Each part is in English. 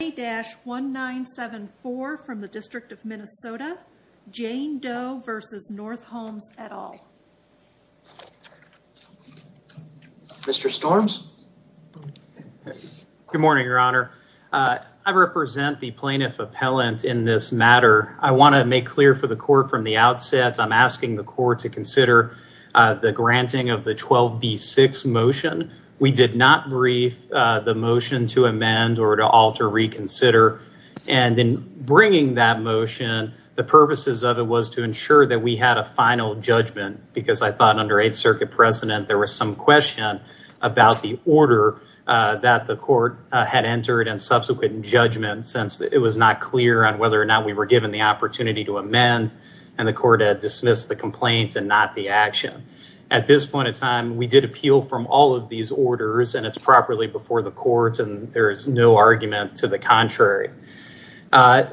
1-974 from the District of Minnesota, Jane Doe v. North Homes, et al. Mr. Storms? Good morning, Your Honor. I represent the Plaintiff Appellant in this matter. I want to make clear for the Court from the outset, I'm asking the Court to consider the granting of the 12B6 motion. We did not brief the motion to amend or to alter, reconsider, and in bringing that motion, the purposes of it was to ensure that we had a final judgment, because I thought under Eighth Circuit precedent, there was some question about the order that the Court had entered and subsequent judgment, since it was not clear on whether or not we were given the opportunity to amend, and the Court had dismissed the complaint and not the action. At this point in time, we did appeal from all of these orders, and it's properly before the Court, and there is no argument to the contrary.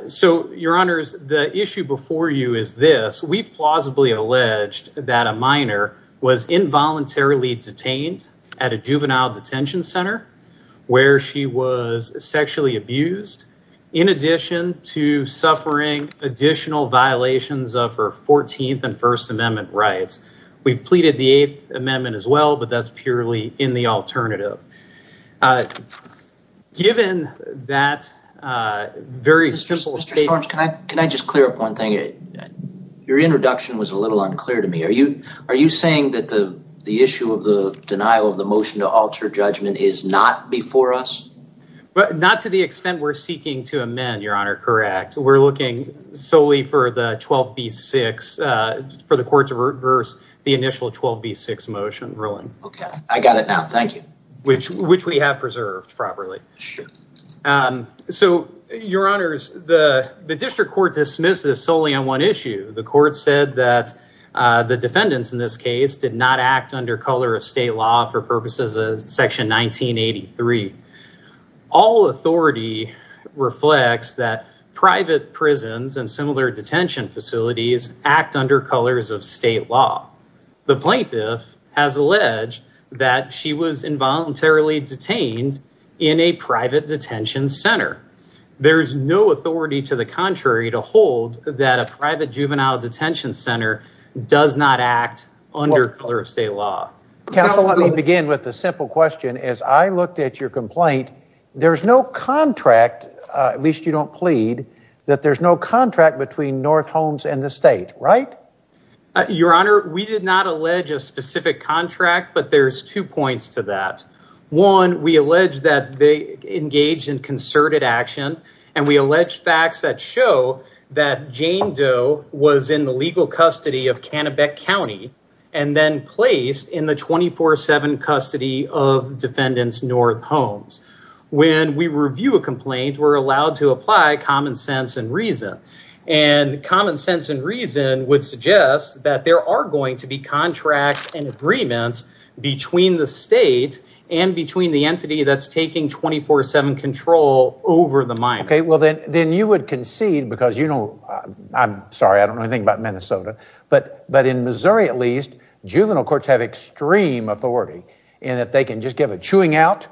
So Your Honors, the issue before you is this. We've plausibly alleged that a minor was involuntarily detained at a juvenile detention center where she was sexually abused, in addition to suffering additional violations of her 14th and First Amendment rights. We've pleaded the Eighth Amendment as well, but that's purely in the alternative. Given that very simple statement... Mr. Storch, can I just clear up one thing? Your introduction was a little unclear to me. Are you saying that the issue of the denial of the motion to alter judgment is not before us? Not to the extent we're seeking to amend, Your Honor, correct. We're looking solely for the 12B6, for the Court to reverse the initial 12B6 motion ruling. Okay, I got it now. Thank you. Which we have preserved properly. So Your Honors, the District Court dismissed this solely on one issue. The Court said that the defendants in this case did not act under color of state law for purposes of Section 1983. All authority reflects that private prisons and similar detention facilities act under colors of state law. The plaintiff has alleged that she was involuntarily detained in a private detention center. There's no authority to the contrary to hold that a private juvenile detention center does not act under color of state law. Counsel, let me begin with a simple question. As I looked at your complaint, there's no contract, at least you don't plead, that there's no contract between North Holmes and the state, right? Your Honor, we did not allege a specific contract, but there's two points to that. One, we allege that they engaged in concerted action, and we allege facts that show that in the 24-7 custody of defendants North Holmes. When we review a complaint, we're allowed to apply common sense and reason, and common sense and reason would suggest that there are going to be contracts and agreements between the state and between the entity that's taking 24-7 control over the mine. Okay, well then you would concede, because you know, I'm sorry, I don't know anything about Minnesota, but in Missouri at least, juvenile courts have extreme authority in that they can just give a chewing out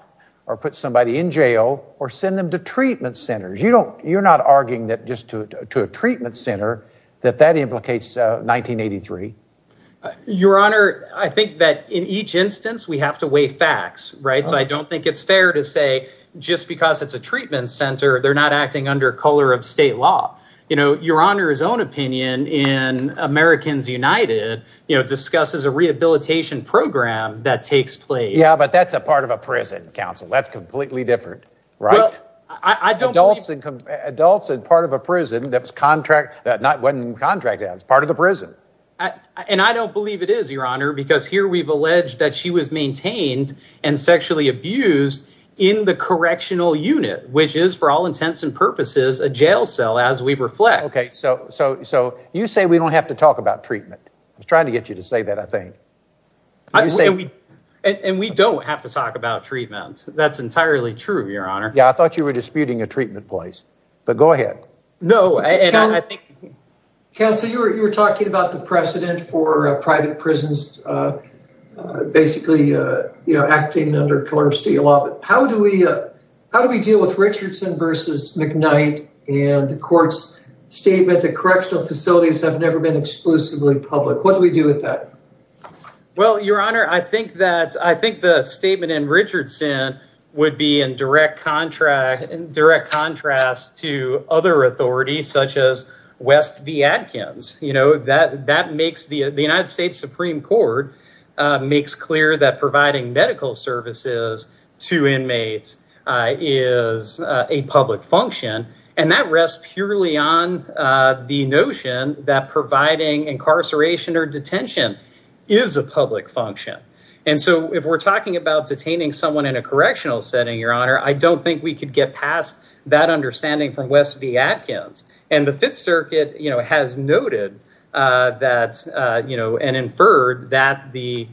or put somebody in jail or send them to treatment centers. You don't, you're not arguing that just to a treatment center, that that implicates 1983. Your Honor, I think that in each instance, we have to weigh facts, right, so I don't think it's fair to say just because it's a treatment center, they're not acting under color of state law. You know, Your Honor's own opinion in Americans United, you know, discusses a rehabilitation program that takes place. Yeah, but that's a part of a prison, counsel. That's completely different, right? I don't believe- Adults in part of a prison, that's contract, that wasn't contract, that's part of the prison. And I don't believe it is, Your Honor, because here we've alleged that she was maintained and sexually abused in the correctional unit, which is for all intents and purposes, a jail where we reflect- Okay, so you say we don't have to talk about treatment. I was trying to get you to say that, I think. And we don't have to talk about treatment. That's entirely true, Your Honor. Yeah, I thought you were disputing a treatment place, but go ahead. No, I think- Counsel, you were talking about the precedent for private prisons basically, you know, acting under color of state law. How do we deal with Richardson v. McKnight and the court's statement that correctional facilities have never been exclusively public? What do we do with that? Well, Your Honor, I think the statement in Richardson would be in direct contrast to other authorities such as West v. Atkins. You know, the United States Supreme Court makes clear that providing medical services to inmates is a public function. And that rests purely on the notion that providing incarceration or detention is a public function. And so if we're talking about detaining someone in a correctional setting, Your Honor, I don't think we could get past that understanding from West v. Atkins. And the Fifth Circuit has noted that, you know, and inferred that the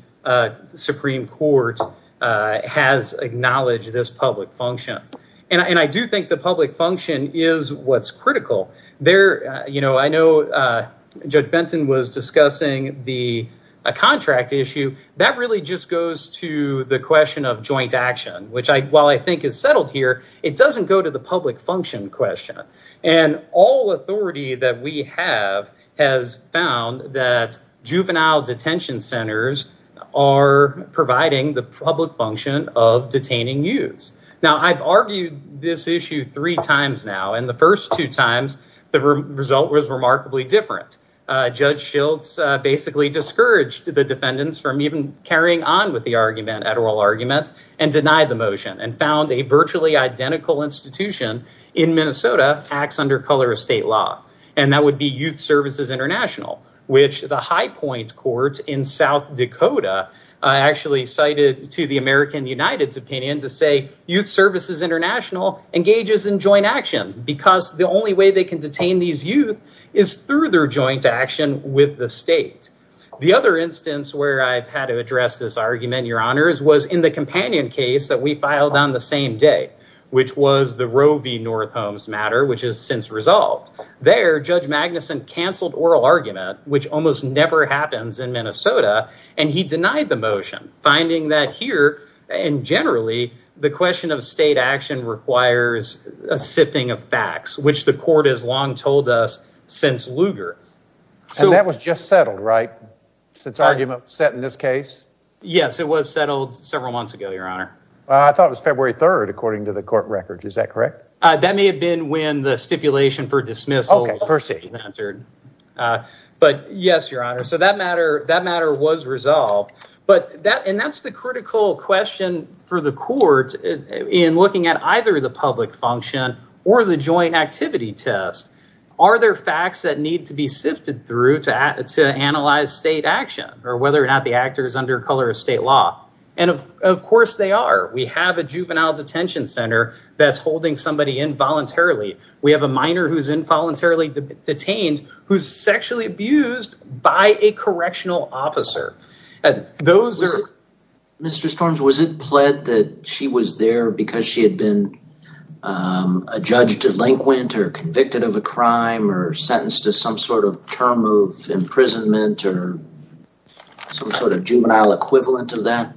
Supreme Court has acknowledged this public function. And I do think the public function is what's critical there. You know, I know Judge Benton was discussing the contract issue that really just goes to the question of joint action, which I while I think is settled here, it doesn't go to the public function question. And all authority that we have has found that juvenile detention centers are providing the public function of detaining youths. Now, I've argued this issue three times now, and the first two times the result was remarkably different. Judge Schiltz basically discouraged the defendants from even carrying on with the argument at oral arguments and denied the motion and found a virtually identical institution in Minnesota acts under color of state law, and that would be Youth Services International, which the High Point Court in South Dakota actually cited to the American United's opinion to say Youth Services International engages in joint action because the only way they can detain these youth is through their joint action with the state. The other instance where I've had to address this argument, Your Honors, was in the Roe v. North Holmes matter, which has since resolved. There, Judge Magnuson canceled oral argument, which almost never happens in Minnesota, and he denied the motion, finding that here and generally the question of state action requires a sifting of facts, which the court has long told us since Lugar. So that was just settled, right? Since argument set in this case? Yes, it was settled several months ago, Your Honor. I thought it was February 3rd, according to the court records. Is that correct? That may have been when the stipulation for dismissal was entered. But yes, Your Honor. So that matter was resolved, and that's the critical question for the court in looking at either the public function or the joint activity test. Are there facts that need to be sifted through to analyze state action or whether or not the actor is under color of state law? And of course they are. We have a juvenile detention center that's holding somebody involuntarily. We have a minor who's involuntarily detained, who's sexually abused by a correctional officer. Mr. Storms, was it pled that she was there because she had been a judge delinquent or convicted of a crime or sentenced to some sort of term of imprisonment or some sort of juvenile equivalent of that?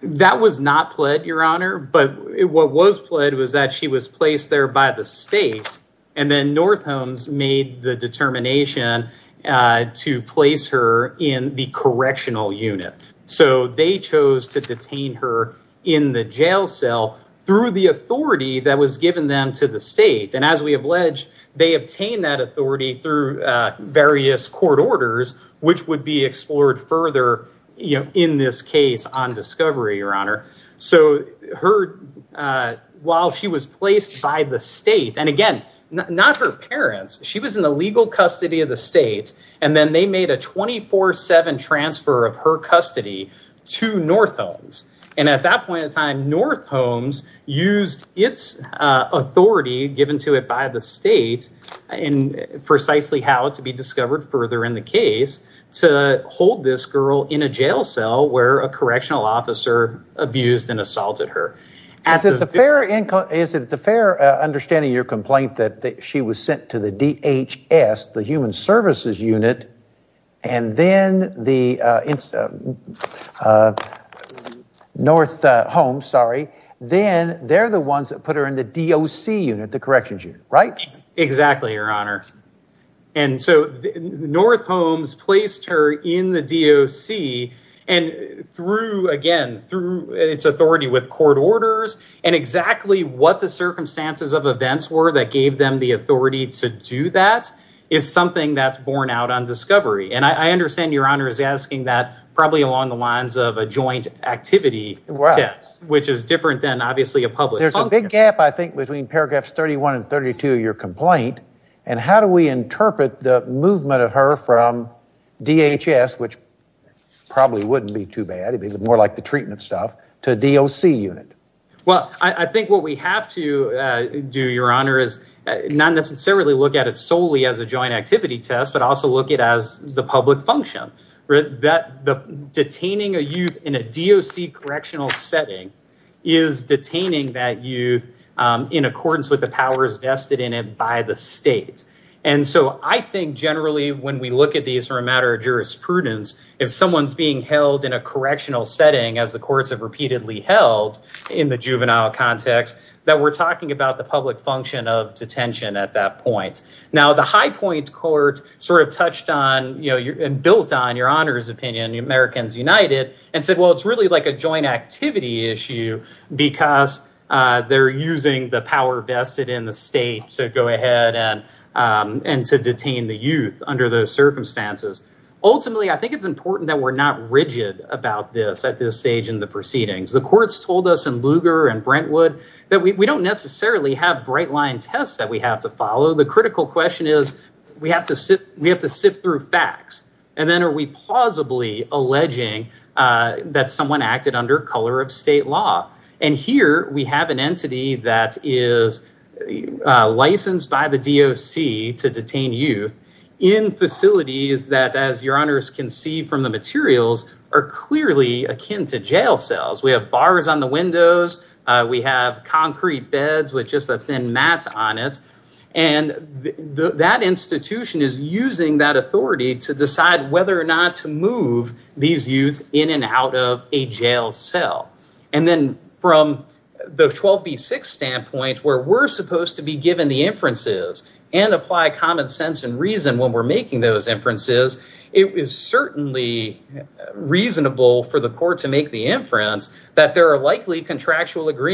That was not pled, Your Honor. But what was pled was that she was placed there by the state. And then North Holmes made the determination to place her in the correctional unit. So they chose to detain her in the jail cell through the authority that was given them to the state. And as we have alleged, they obtained that authority through various court orders, which would be explored further in this case on discovery, Your Honor. So while she was placed by the state, and again, not her parents, she was in the legal custody of the state. And then they made a 24-7 transfer of her custody to North Holmes. And at that point in time, North Holmes used its authority given to it by the state and precisely how to be discovered further in the case to hold this girl in a jail cell where a correctional officer abused and assaulted her. Is it the fair understanding of your complaint that she was sent to the DHS, the human services unit, and then the North Holmes, sorry, then they're the ones that put her in the DOC unit, the corrections unit, right? Exactly, Your Honor. And so North Holmes placed her in the DOC and through, again, through its authority with court orders and exactly what the circumstances of events were that gave them the authority to do that is something that's borne out on discovery. And I understand Your Honor is asking that probably along the lines of a joint activity test, which is different than obviously a public. There's a big gap, I think, between paragraphs 31 and 32 of your complaint. And how do we interpret the movement of her from DHS, which probably wouldn't be too bad to be more like the treatment stuff to DOC unit? Well, I think what we have to do, Your Honor, is not necessarily look at it solely as a joint activity test, but also look at as the public function that detaining a youth in a DOC correctional setting is detaining that youth in accordance with the powers vested in it by the state. And so I think generally when we look at these for a matter of jurisprudence, if someone's being held in a correctional setting, as the courts have repeatedly held in the juvenile context, that we're talking about the public function of detention at that point. Now, the High Point Court sort of touched on and built on Your Honor's opinion, Americans United, and said, well, it's really like a joint activity issue because they're using the power vested in the state to go ahead and to detain the youth under those circumstances. Ultimately, I think it's important that we're not rigid about this at this stage in the proceedings. The courts told us in Lugar and Brentwood that we don't necessarily have bright line tests that we have to follow. The critical question is we have to sit we have to sift through facts. And then are we plausibly alleging that someone acted under color of state law? And here we have an entity that is licensed by the DOC to detain youth in facilities that, as Your Honors can see from the materials, are clearly akin to jail cells. We have bars on the windows. We have concrete beds with just a thin mat on it. And that institution is using that authority to decide whether or not to move these youths in and out of a jail cell. And then from the 12B6 standpoint, where we're supposed to be given the inferences and apply common sense and reason when we're making those inferences, it is certainly reasonable for the court to make the inference that there are likely contractual there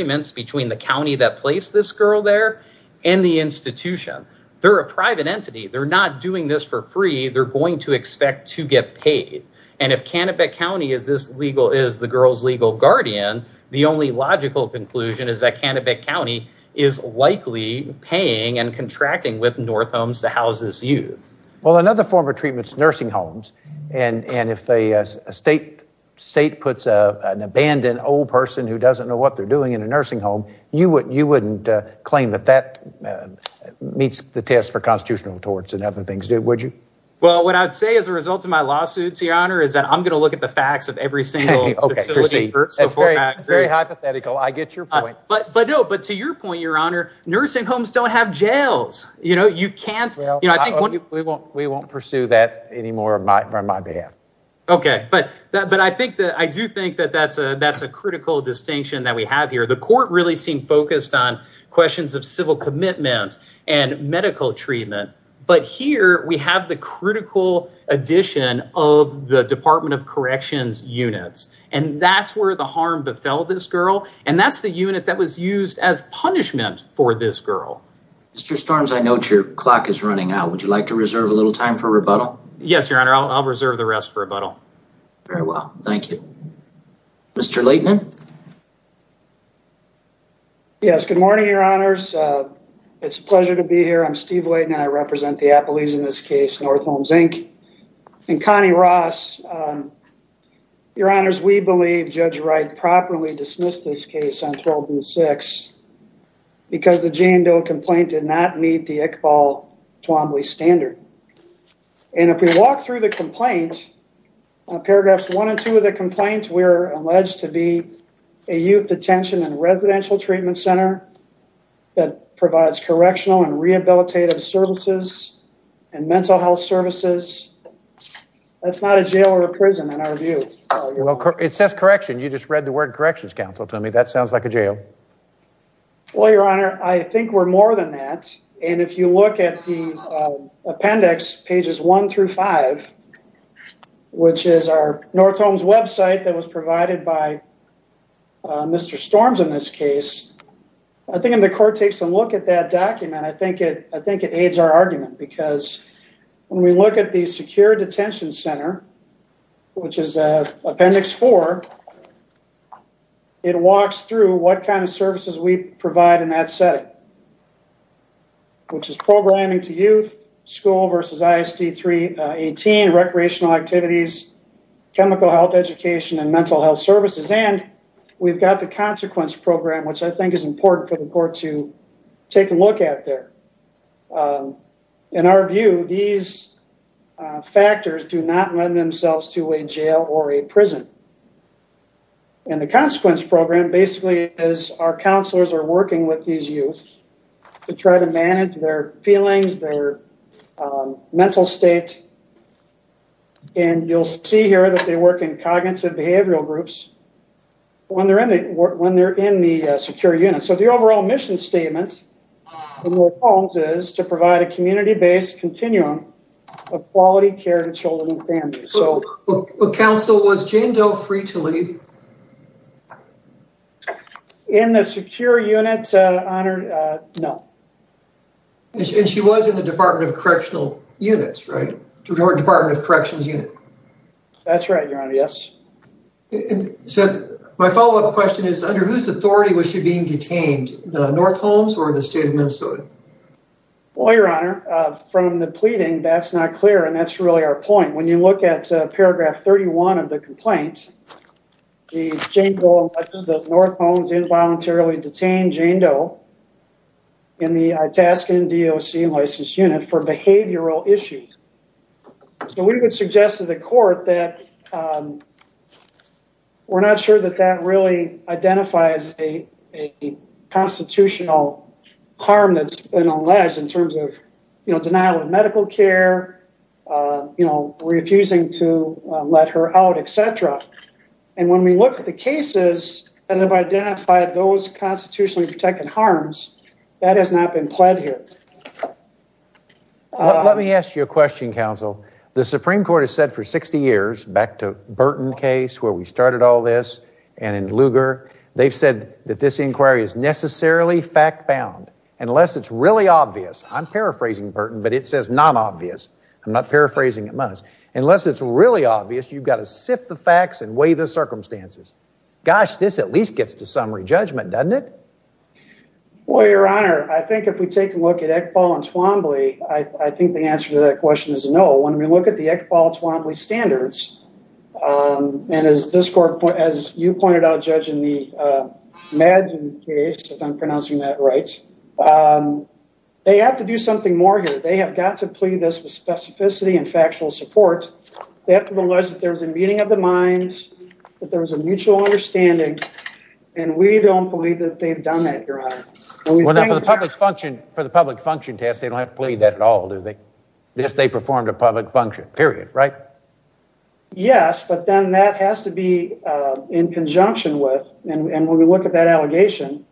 in the institution. They're a private entity. They're not doing this for free. They're going to expect to get paid. And if Canobie County is this legal, is the girl's legal guardian, the only logical conclusion is that Canobie County is likely paying and contracting with North Homes to house this youth. Well, another form of treatment is nursing homes. And if a state puts an abandoned old person who doesn't know what they're doing in a nursing home, would you claim that that meets the test for constitutional torts and other things? Would you? Well, what I'd say as a result of my lawsuit, Your Honor, is that I'm going to look at the facts of every single facility first. That's very hypothetical. I get your point. But but no, but to your point, Your Honor, nursing homes don't have jails. You know, you can't. You know, I think we won't we won't pursue that anymore on my behalf. OK, but but I think that I do think that that's a that's a critical distinction that we have here. The court really seemed focused on questions of civil commitment and medical treatment. But here we have the critical addition of the Department of Corrections units. And that's where the harm befell this girl. And that's the unit that was used as punishment for this girl. Mr. Storms, I note your clock is running out. Would you like to reserve a little time for rebuttal? Yes, Your Honor. I'll reserve the rest for rebuttal. Very well. Thank you, Mr. Leighton. Yes, good morning, Your Honors. It's a pleasure to be here. I'm Steve Leighton. I represent the Appalachians in this case, North Homes Inc. and Connie Ross. Your Honors, we believe Judge Wright properly dismissed this case on 12 and six because the Jane Doe complaint did not meet the Iqbal-Twombly standard. And if we walk through the complaint, paragraphs one and two of the complaint, we're alleged to be a youth detention and residential treatment center that provides correctional and rehabilitative services and mental health services. That's not a jail or a prison in our view. It says correction. You just read the word corrections counsel to me. That sounds like a jail. Well, Your Honor, I think we're more than that. And if you look at the appendix, pages one through five, which is our North Homes website that was provided by Mr. Storms in this case, I think the court takes a look at that document. I think it I think it aids our argument because when we look at the secure detention center, which is appendix four, it walks through what kind of services we provide in that setting. Which is programming to youth, school versus ISD 318, recreational activities, chemical health education and mental health services. And we've got the consequence program, which I think is important for the court to take a look at there. In our view, these factors do not lend themselves to a jail or a prison. And the consequence program basically is our counselors are working with these youth to try to manage their feelings, their mental state. And you'll see here that they work in cognitive behavioral groups when they're in the secure unit. So the overall mission statement of North Homes is to provide a community based continuum of quality care to children and families. But counsel, was Jane Doe free to leave? In the secure unit, Your Honor, no. And she was in the Department of Correctional Units, right? Department of Corrections Unit. That's right, Your Honor, yes. So my follow up question is, under whose authority was she being detained? North Homes or the state of Minnesota? Well, Your Honor, from the pleading, that's not clear. And that's really our point. When you look at paragraph 31 of the complaint, the Jane Doe, North Homes involuntarily detained Jane Doe in the Itascan DOC licensed unit for behavioral issues. So we would suggest to the court that we're not sure that that really identifies a constitutional harm that's been alleged in terms of, you know, denial of medical care, you know, refusing to let her out, et cetera. And when we look at the cases that have identified those constitutionally protected harms, that has not been pled here. Let me ask you a question, counsel. The Supreme Court has said for 60 years, back to Burton case where we started all this and in Lugar, they've said that this inquiry is necessarily fact bound, unless it's really obvious. I'm paraphrasing Burton, but it says non-obvious. I'm not paraphrasing at most. Unless it's really obvious, you've got to sift the facts and weigh the circumstances. Gosh, this at least gets to summary judgment, doesn't it? Well, Your Honor, I think if we take a look at Eqbal and Twombly, I think the answer to that question is no. When we look at the Eqbal and Twombly standards and as this court, as you pointed out, judging the Madden case, if I'm pronouncing that right, they have to do something more here. They have got to plead this with specificity and factual support. They have to allege that there was a meeting of the minds, that there was a mutual understanding. And we don't believe that they've done that, Your Honor. Well, for the public function test, they don't have to plead that at all, do they? Just they performed a public function, period, right? Yes, but then that has to be in conjunction with and when we look at that allegation,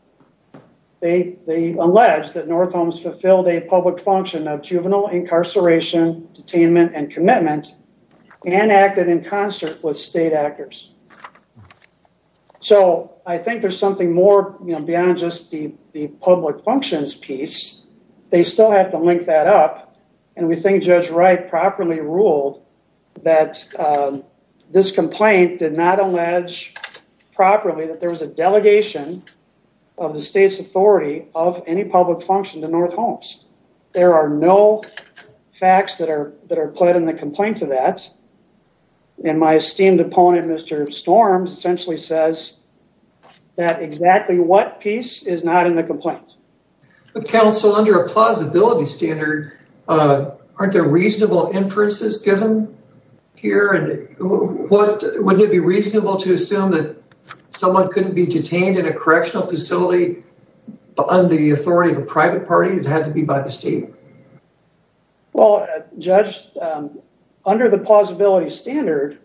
they allege that North Holmes fulfilled a public function of juvenile incarceration, detainment and commitment and acted in concert with state actors. So I think there's something more beyond just the public functions piece. They still have to link that up. And we think Judge Wright properly ruled that this complaint did not allege properly that there was a delegation of the state's authority of any public function to North Holmes. There are no facts that are put in the complaint to that. And my esteemed opponent, Mr. Storms, essentially says that exactly what piece is not in the complaint. But counsel, under a plausibility standard, aren't there reasonable inferences given here? And wouldn't it be reasonable to assume that someone couldn't be detained in a state facility? Well, Judge, under the plausibility standard,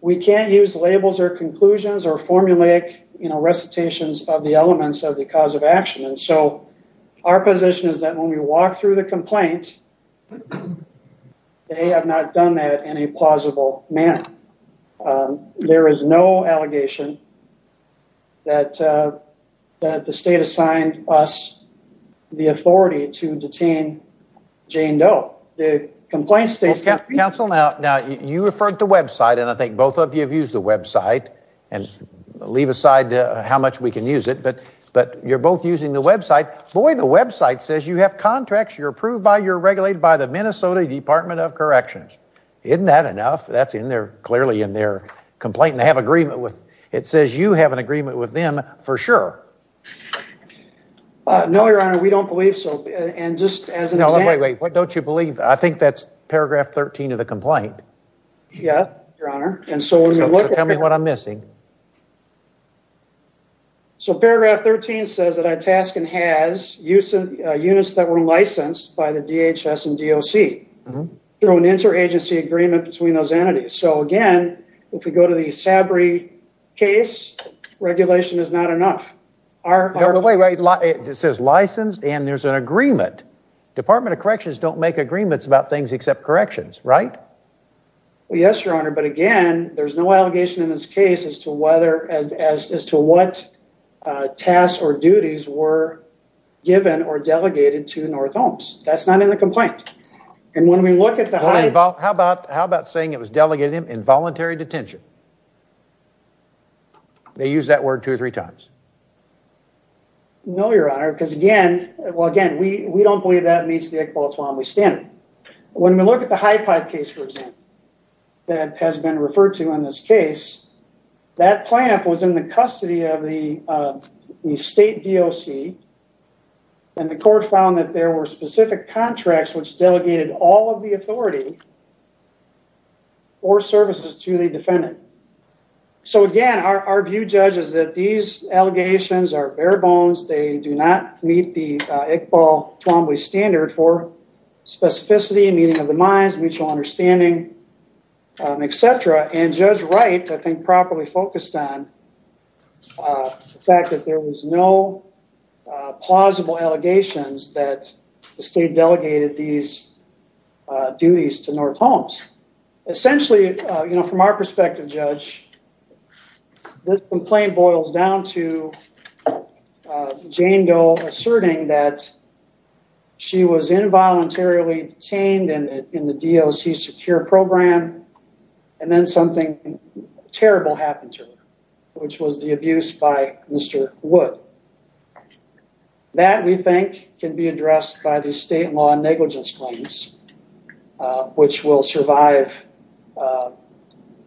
we can't use labels or conclusions or formulaic recitations of the elements of the cause of action. And so our position is that when we walk through the complaint, they have not done that in a plausible manner. And there is no allegation that the state assigned us the authority to detain Jane Doe. The complaint states that... Counsel, now, you referred to website, and I think both of you have used the website. And leave aside how much we can use it. But you're both using the website. Boy, the website says you have contracts, you're approved by, you're regulated by the Minnesota Department of Corrections. Isn't that enough? That's in there, clearly in their complaint. And they have agreement with... It says you have an agreement with them for sure. No, Your Honor, we don't believe so. And just as an example... No, wait, wait. What don't you believe? I think that's paragraph 13 of the complaint. Yeah, Your Honor. And so when we look at... So tell me what I'm missing. So paragraph 13 says that Itascan has units that were licensed by the DHS and DOC. Through an interagency agreement between those entities. So again, if we go to the Sabry case, regulation is not enough. No, but wait, it says licensed and there's an agreement. Department of Corrections don't make agreements about things except corrections, right? Yes, Your Honor. But again, there's no allegation in this case as to whether, as to what tasks or duties were given or delegated to North Holmes. That's not in the complaint. And when we look at the high... How about saying it was delegated involuntary detention? They use that word two or three times. No, Your Honor, because again... Well, again, we don't believe that meets the equality standard. When we look at the High Pipe case, for example, that has been referred to in this case, that plant was in the custody of the state DOC. And the court found that there were specific contracts which delegated all of the authority or services to the defendant. So again, our view, Judge, is that these allegations are bare bones. They do not meet the Iqbal-Twombly standard for specificity, meaning of the minds, mutual understanding, et cetera. And Judge Wright, I think, properly focused on the fact that there was no plausible allegations that the state delegated these duties to North Holmes. Essentially, you know, from our perspective, Judge, this complaint boils down to Jane Doe asserting that she was involuntarily detained in the DOC program and then something terrible happened to her, which was the abuse by Mr. Wood. That, we think, can be addressed by the state law negligence claims, which will survive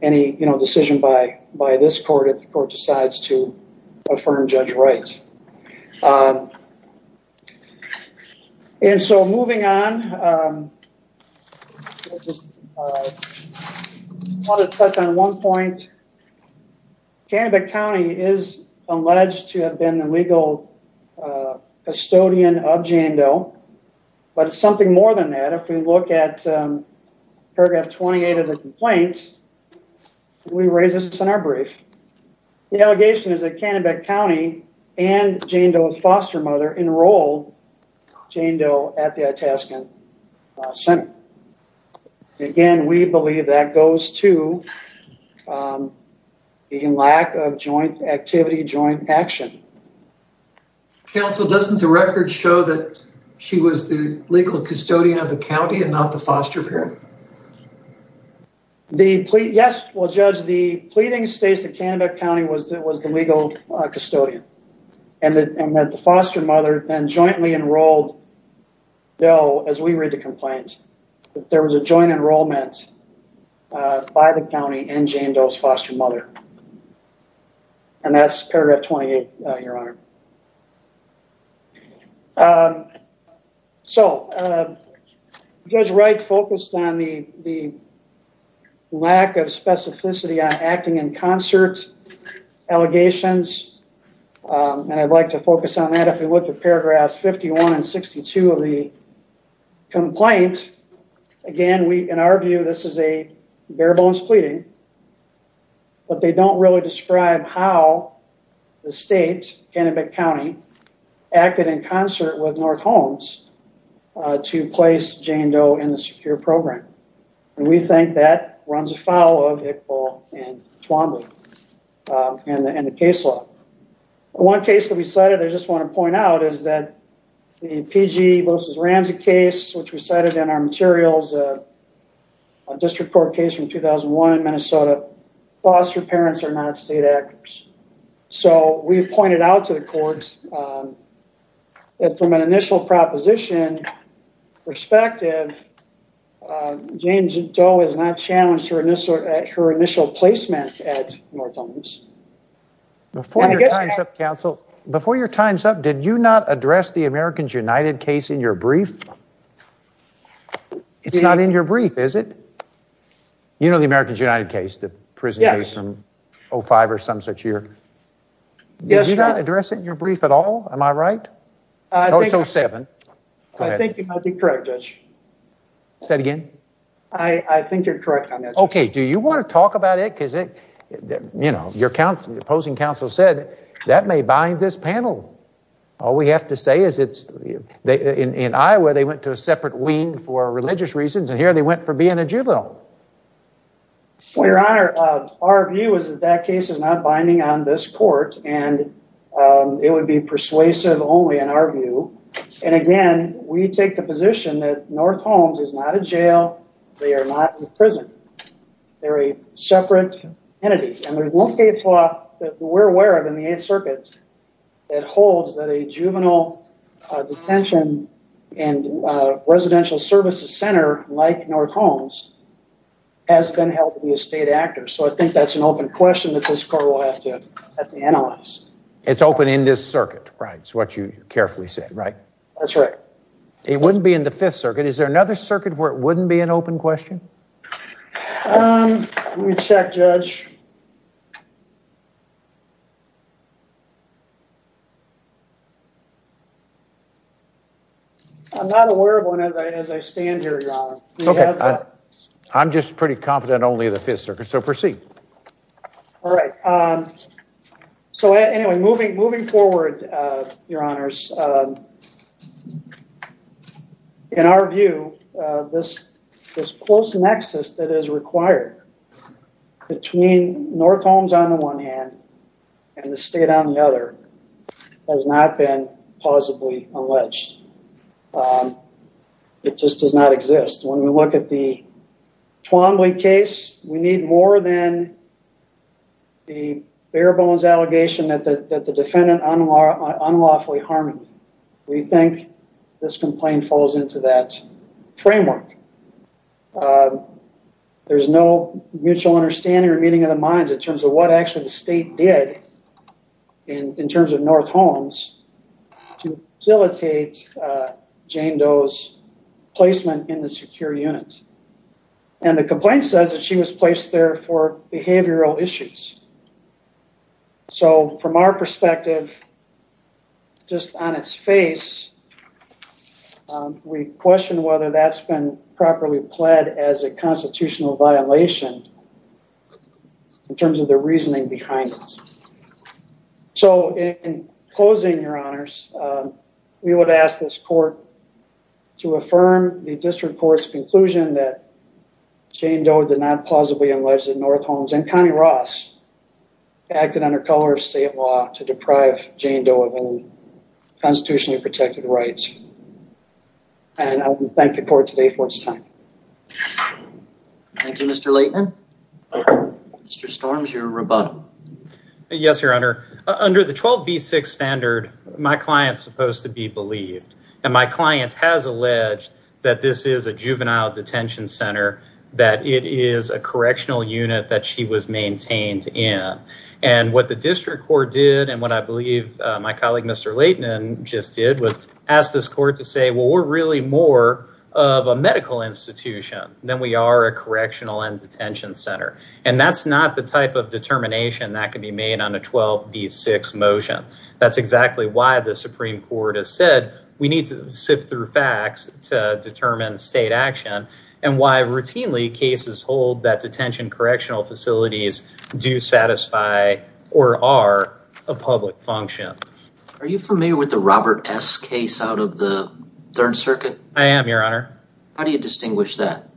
any decision by this court if the court decides to affirm Judge Wright. And so moving on, I want to touch on one point. Canobie County is alleged to have been the legal custodian of Jane Doe, but it's something more than that. If we look at paragraph 28 of the complaint, we raise this in our brief. The allegation is that Canobie County and Jane Doe's foster mother enrolled Jane Doe at the Itascan Center. Again, we believe that goes to the lack of joint activity, joint action. Counsel, doesn't the record show that she was the legal custodian of the county and not the foster parent? Yes, well, Judge, the pleading states that Canobie County was the legal custodian and that the foster mother then jointly enrolled Doe as we read the complaint. There was a joint enrollment by the county and Jane Doe's foster mother. So, Judge Wright focused on the lack of specificity on acting in concert allegations. And I'd like to focus on that. If we look at paragraphs 51 and 62 of the complaint, again, in our view, this is a bare bones pleading, but they don't really describe how the state, Canobie County, acted in concert with North Homes to place Jane Doe in the secure program. And we think that runs afoul of Iqbal and Twombly and the case law. One case that we cited, I just want to point out is that the PG versus Ramsey case, which we cited in our materials, a district court case from 2001 in Minnesota, foster parents are not state actors. So, we pointed out to the courts that from an initial proposition perspective, Jane Doe has not challenged her initial placement at North Homes. Before your time's up, counsel, before your time's up, did you not address the Americans United case in your brief? It's not in your brief, is it? You know the Americans United case, the prison case from 05 or some such year. Did you not address it in your brief at all? Am I right? Oh, it's 07. I think you might be correct, Judge. Say it again. I think you're correct on that. Okay. Do you want to talk about it? Because, you know, your opposing counsel said that may bind this panel. All we have to say is in Iowa, they went to a separate wing for religious reasons, and here they went for being a juvenile. Well, your honor, our view is that that case is not binding on this court, and it would be persuasive only in our view. And again, we take the position that North Homes is not a jail. They are not a prison. They're a separate entity. And there's one case law that we're aware of in the Eighth Circuit that holds that a has been held to be a state actor. So I think that's an open question that this court will have to analyze. It's open in this circuit, right? It's what you carefully said, right? That's right. It wouldn't be in the Fifth Circuit. Is there another circuit where it wouldn't be an open question? Let me check, Judge. I'm not aware of one as I stand here, your honor. Okay, I'm just pretty confident only in the Fifth Circuit. So proceed. All right. So anyway, moving forward, your honors, in our view, this close nexus that is required between North Homes on the one hand and the state on the other has not been plausibly alleged. It just does not exist. When we look at the Twombly case, we need more than the bare bones allegation that the defendant unlawfully harmed me. We think this complaint falls into that framework. There's no mutual understanding or meeting of the minds in terms of what actually the And the complaint says that she was placed there for behavioral issues. So from our perspective, just on its face, we question whether that's been properly pled as a constitutional violation in terms of the reasoning behind it. So in closing, your honors, we would ask this court to affirm the district court's conclusion that Jane Doe did not plausibly allege that North Homes and Connie Ross acted under color of state law to deprive Jane Doe of any constitutionally protected rights. And I would thank the court today for its time. Thank you, Mr. Leighton. Mr. Storms, your rebuttal. Yes, your honor. Under the 12B6 standard, my client's supposed to be believed. And my client has alleged that this is a juvenile detention center, that it is a correctional unit that she was maintained in. And what the district court did, and what I believe my colleague Mr. Leighton just did, was ask this court to say, well, we're really more of a medical institution than we are a correctional and detention center. And that's not the type of determination that can be made on a 12B6 motion. That's exactly why the Supreme Court has said we need to sift through facts to determine state action, and why routinely cases hold that detention correctional facilities do satisfy or are a public function. Are you familiar with the Robert S. case out of the Third Circuit? I am, your honor. How do you distinguish that?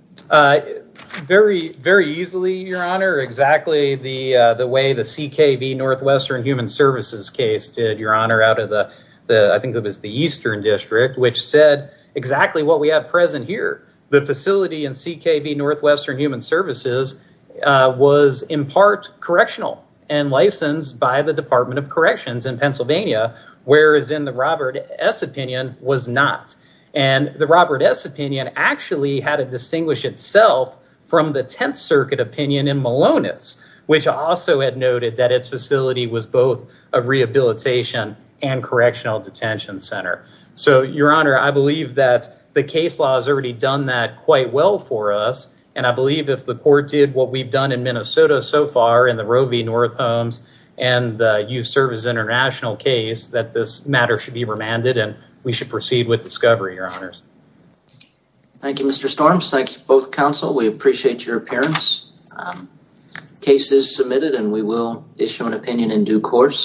Very, very easily, your honor. Exactly the way the CKB Northwestern Human Services case did, your honor, out of the, I think it was the Eastern District, which said exactly what we have present here. The facility in CKB Northwestern Human Services was in part correctional and licensed by the Department of Corrections in Pennsylvania, whereas in the Robert S. opinion was not. And the Robert S. opinion actually had to distinguish itself from the Tenth Circuit opinion in Malonis, which also had noted that its facility was both a rehabilitation and correctional detention center. So, your honor, I believe that the case law has already done that quite well for us. And I believe if the court did what we've done in Minnesota so far in the Roe v. North Holmes and the Youth Services International case, that this matter should be remanded and we should proceed with discovery, your honors. Thank you, Mr. Storms. Thank you, both counsel. We appreciate your appearance. Case is submitted and we will issue an opinion in due course.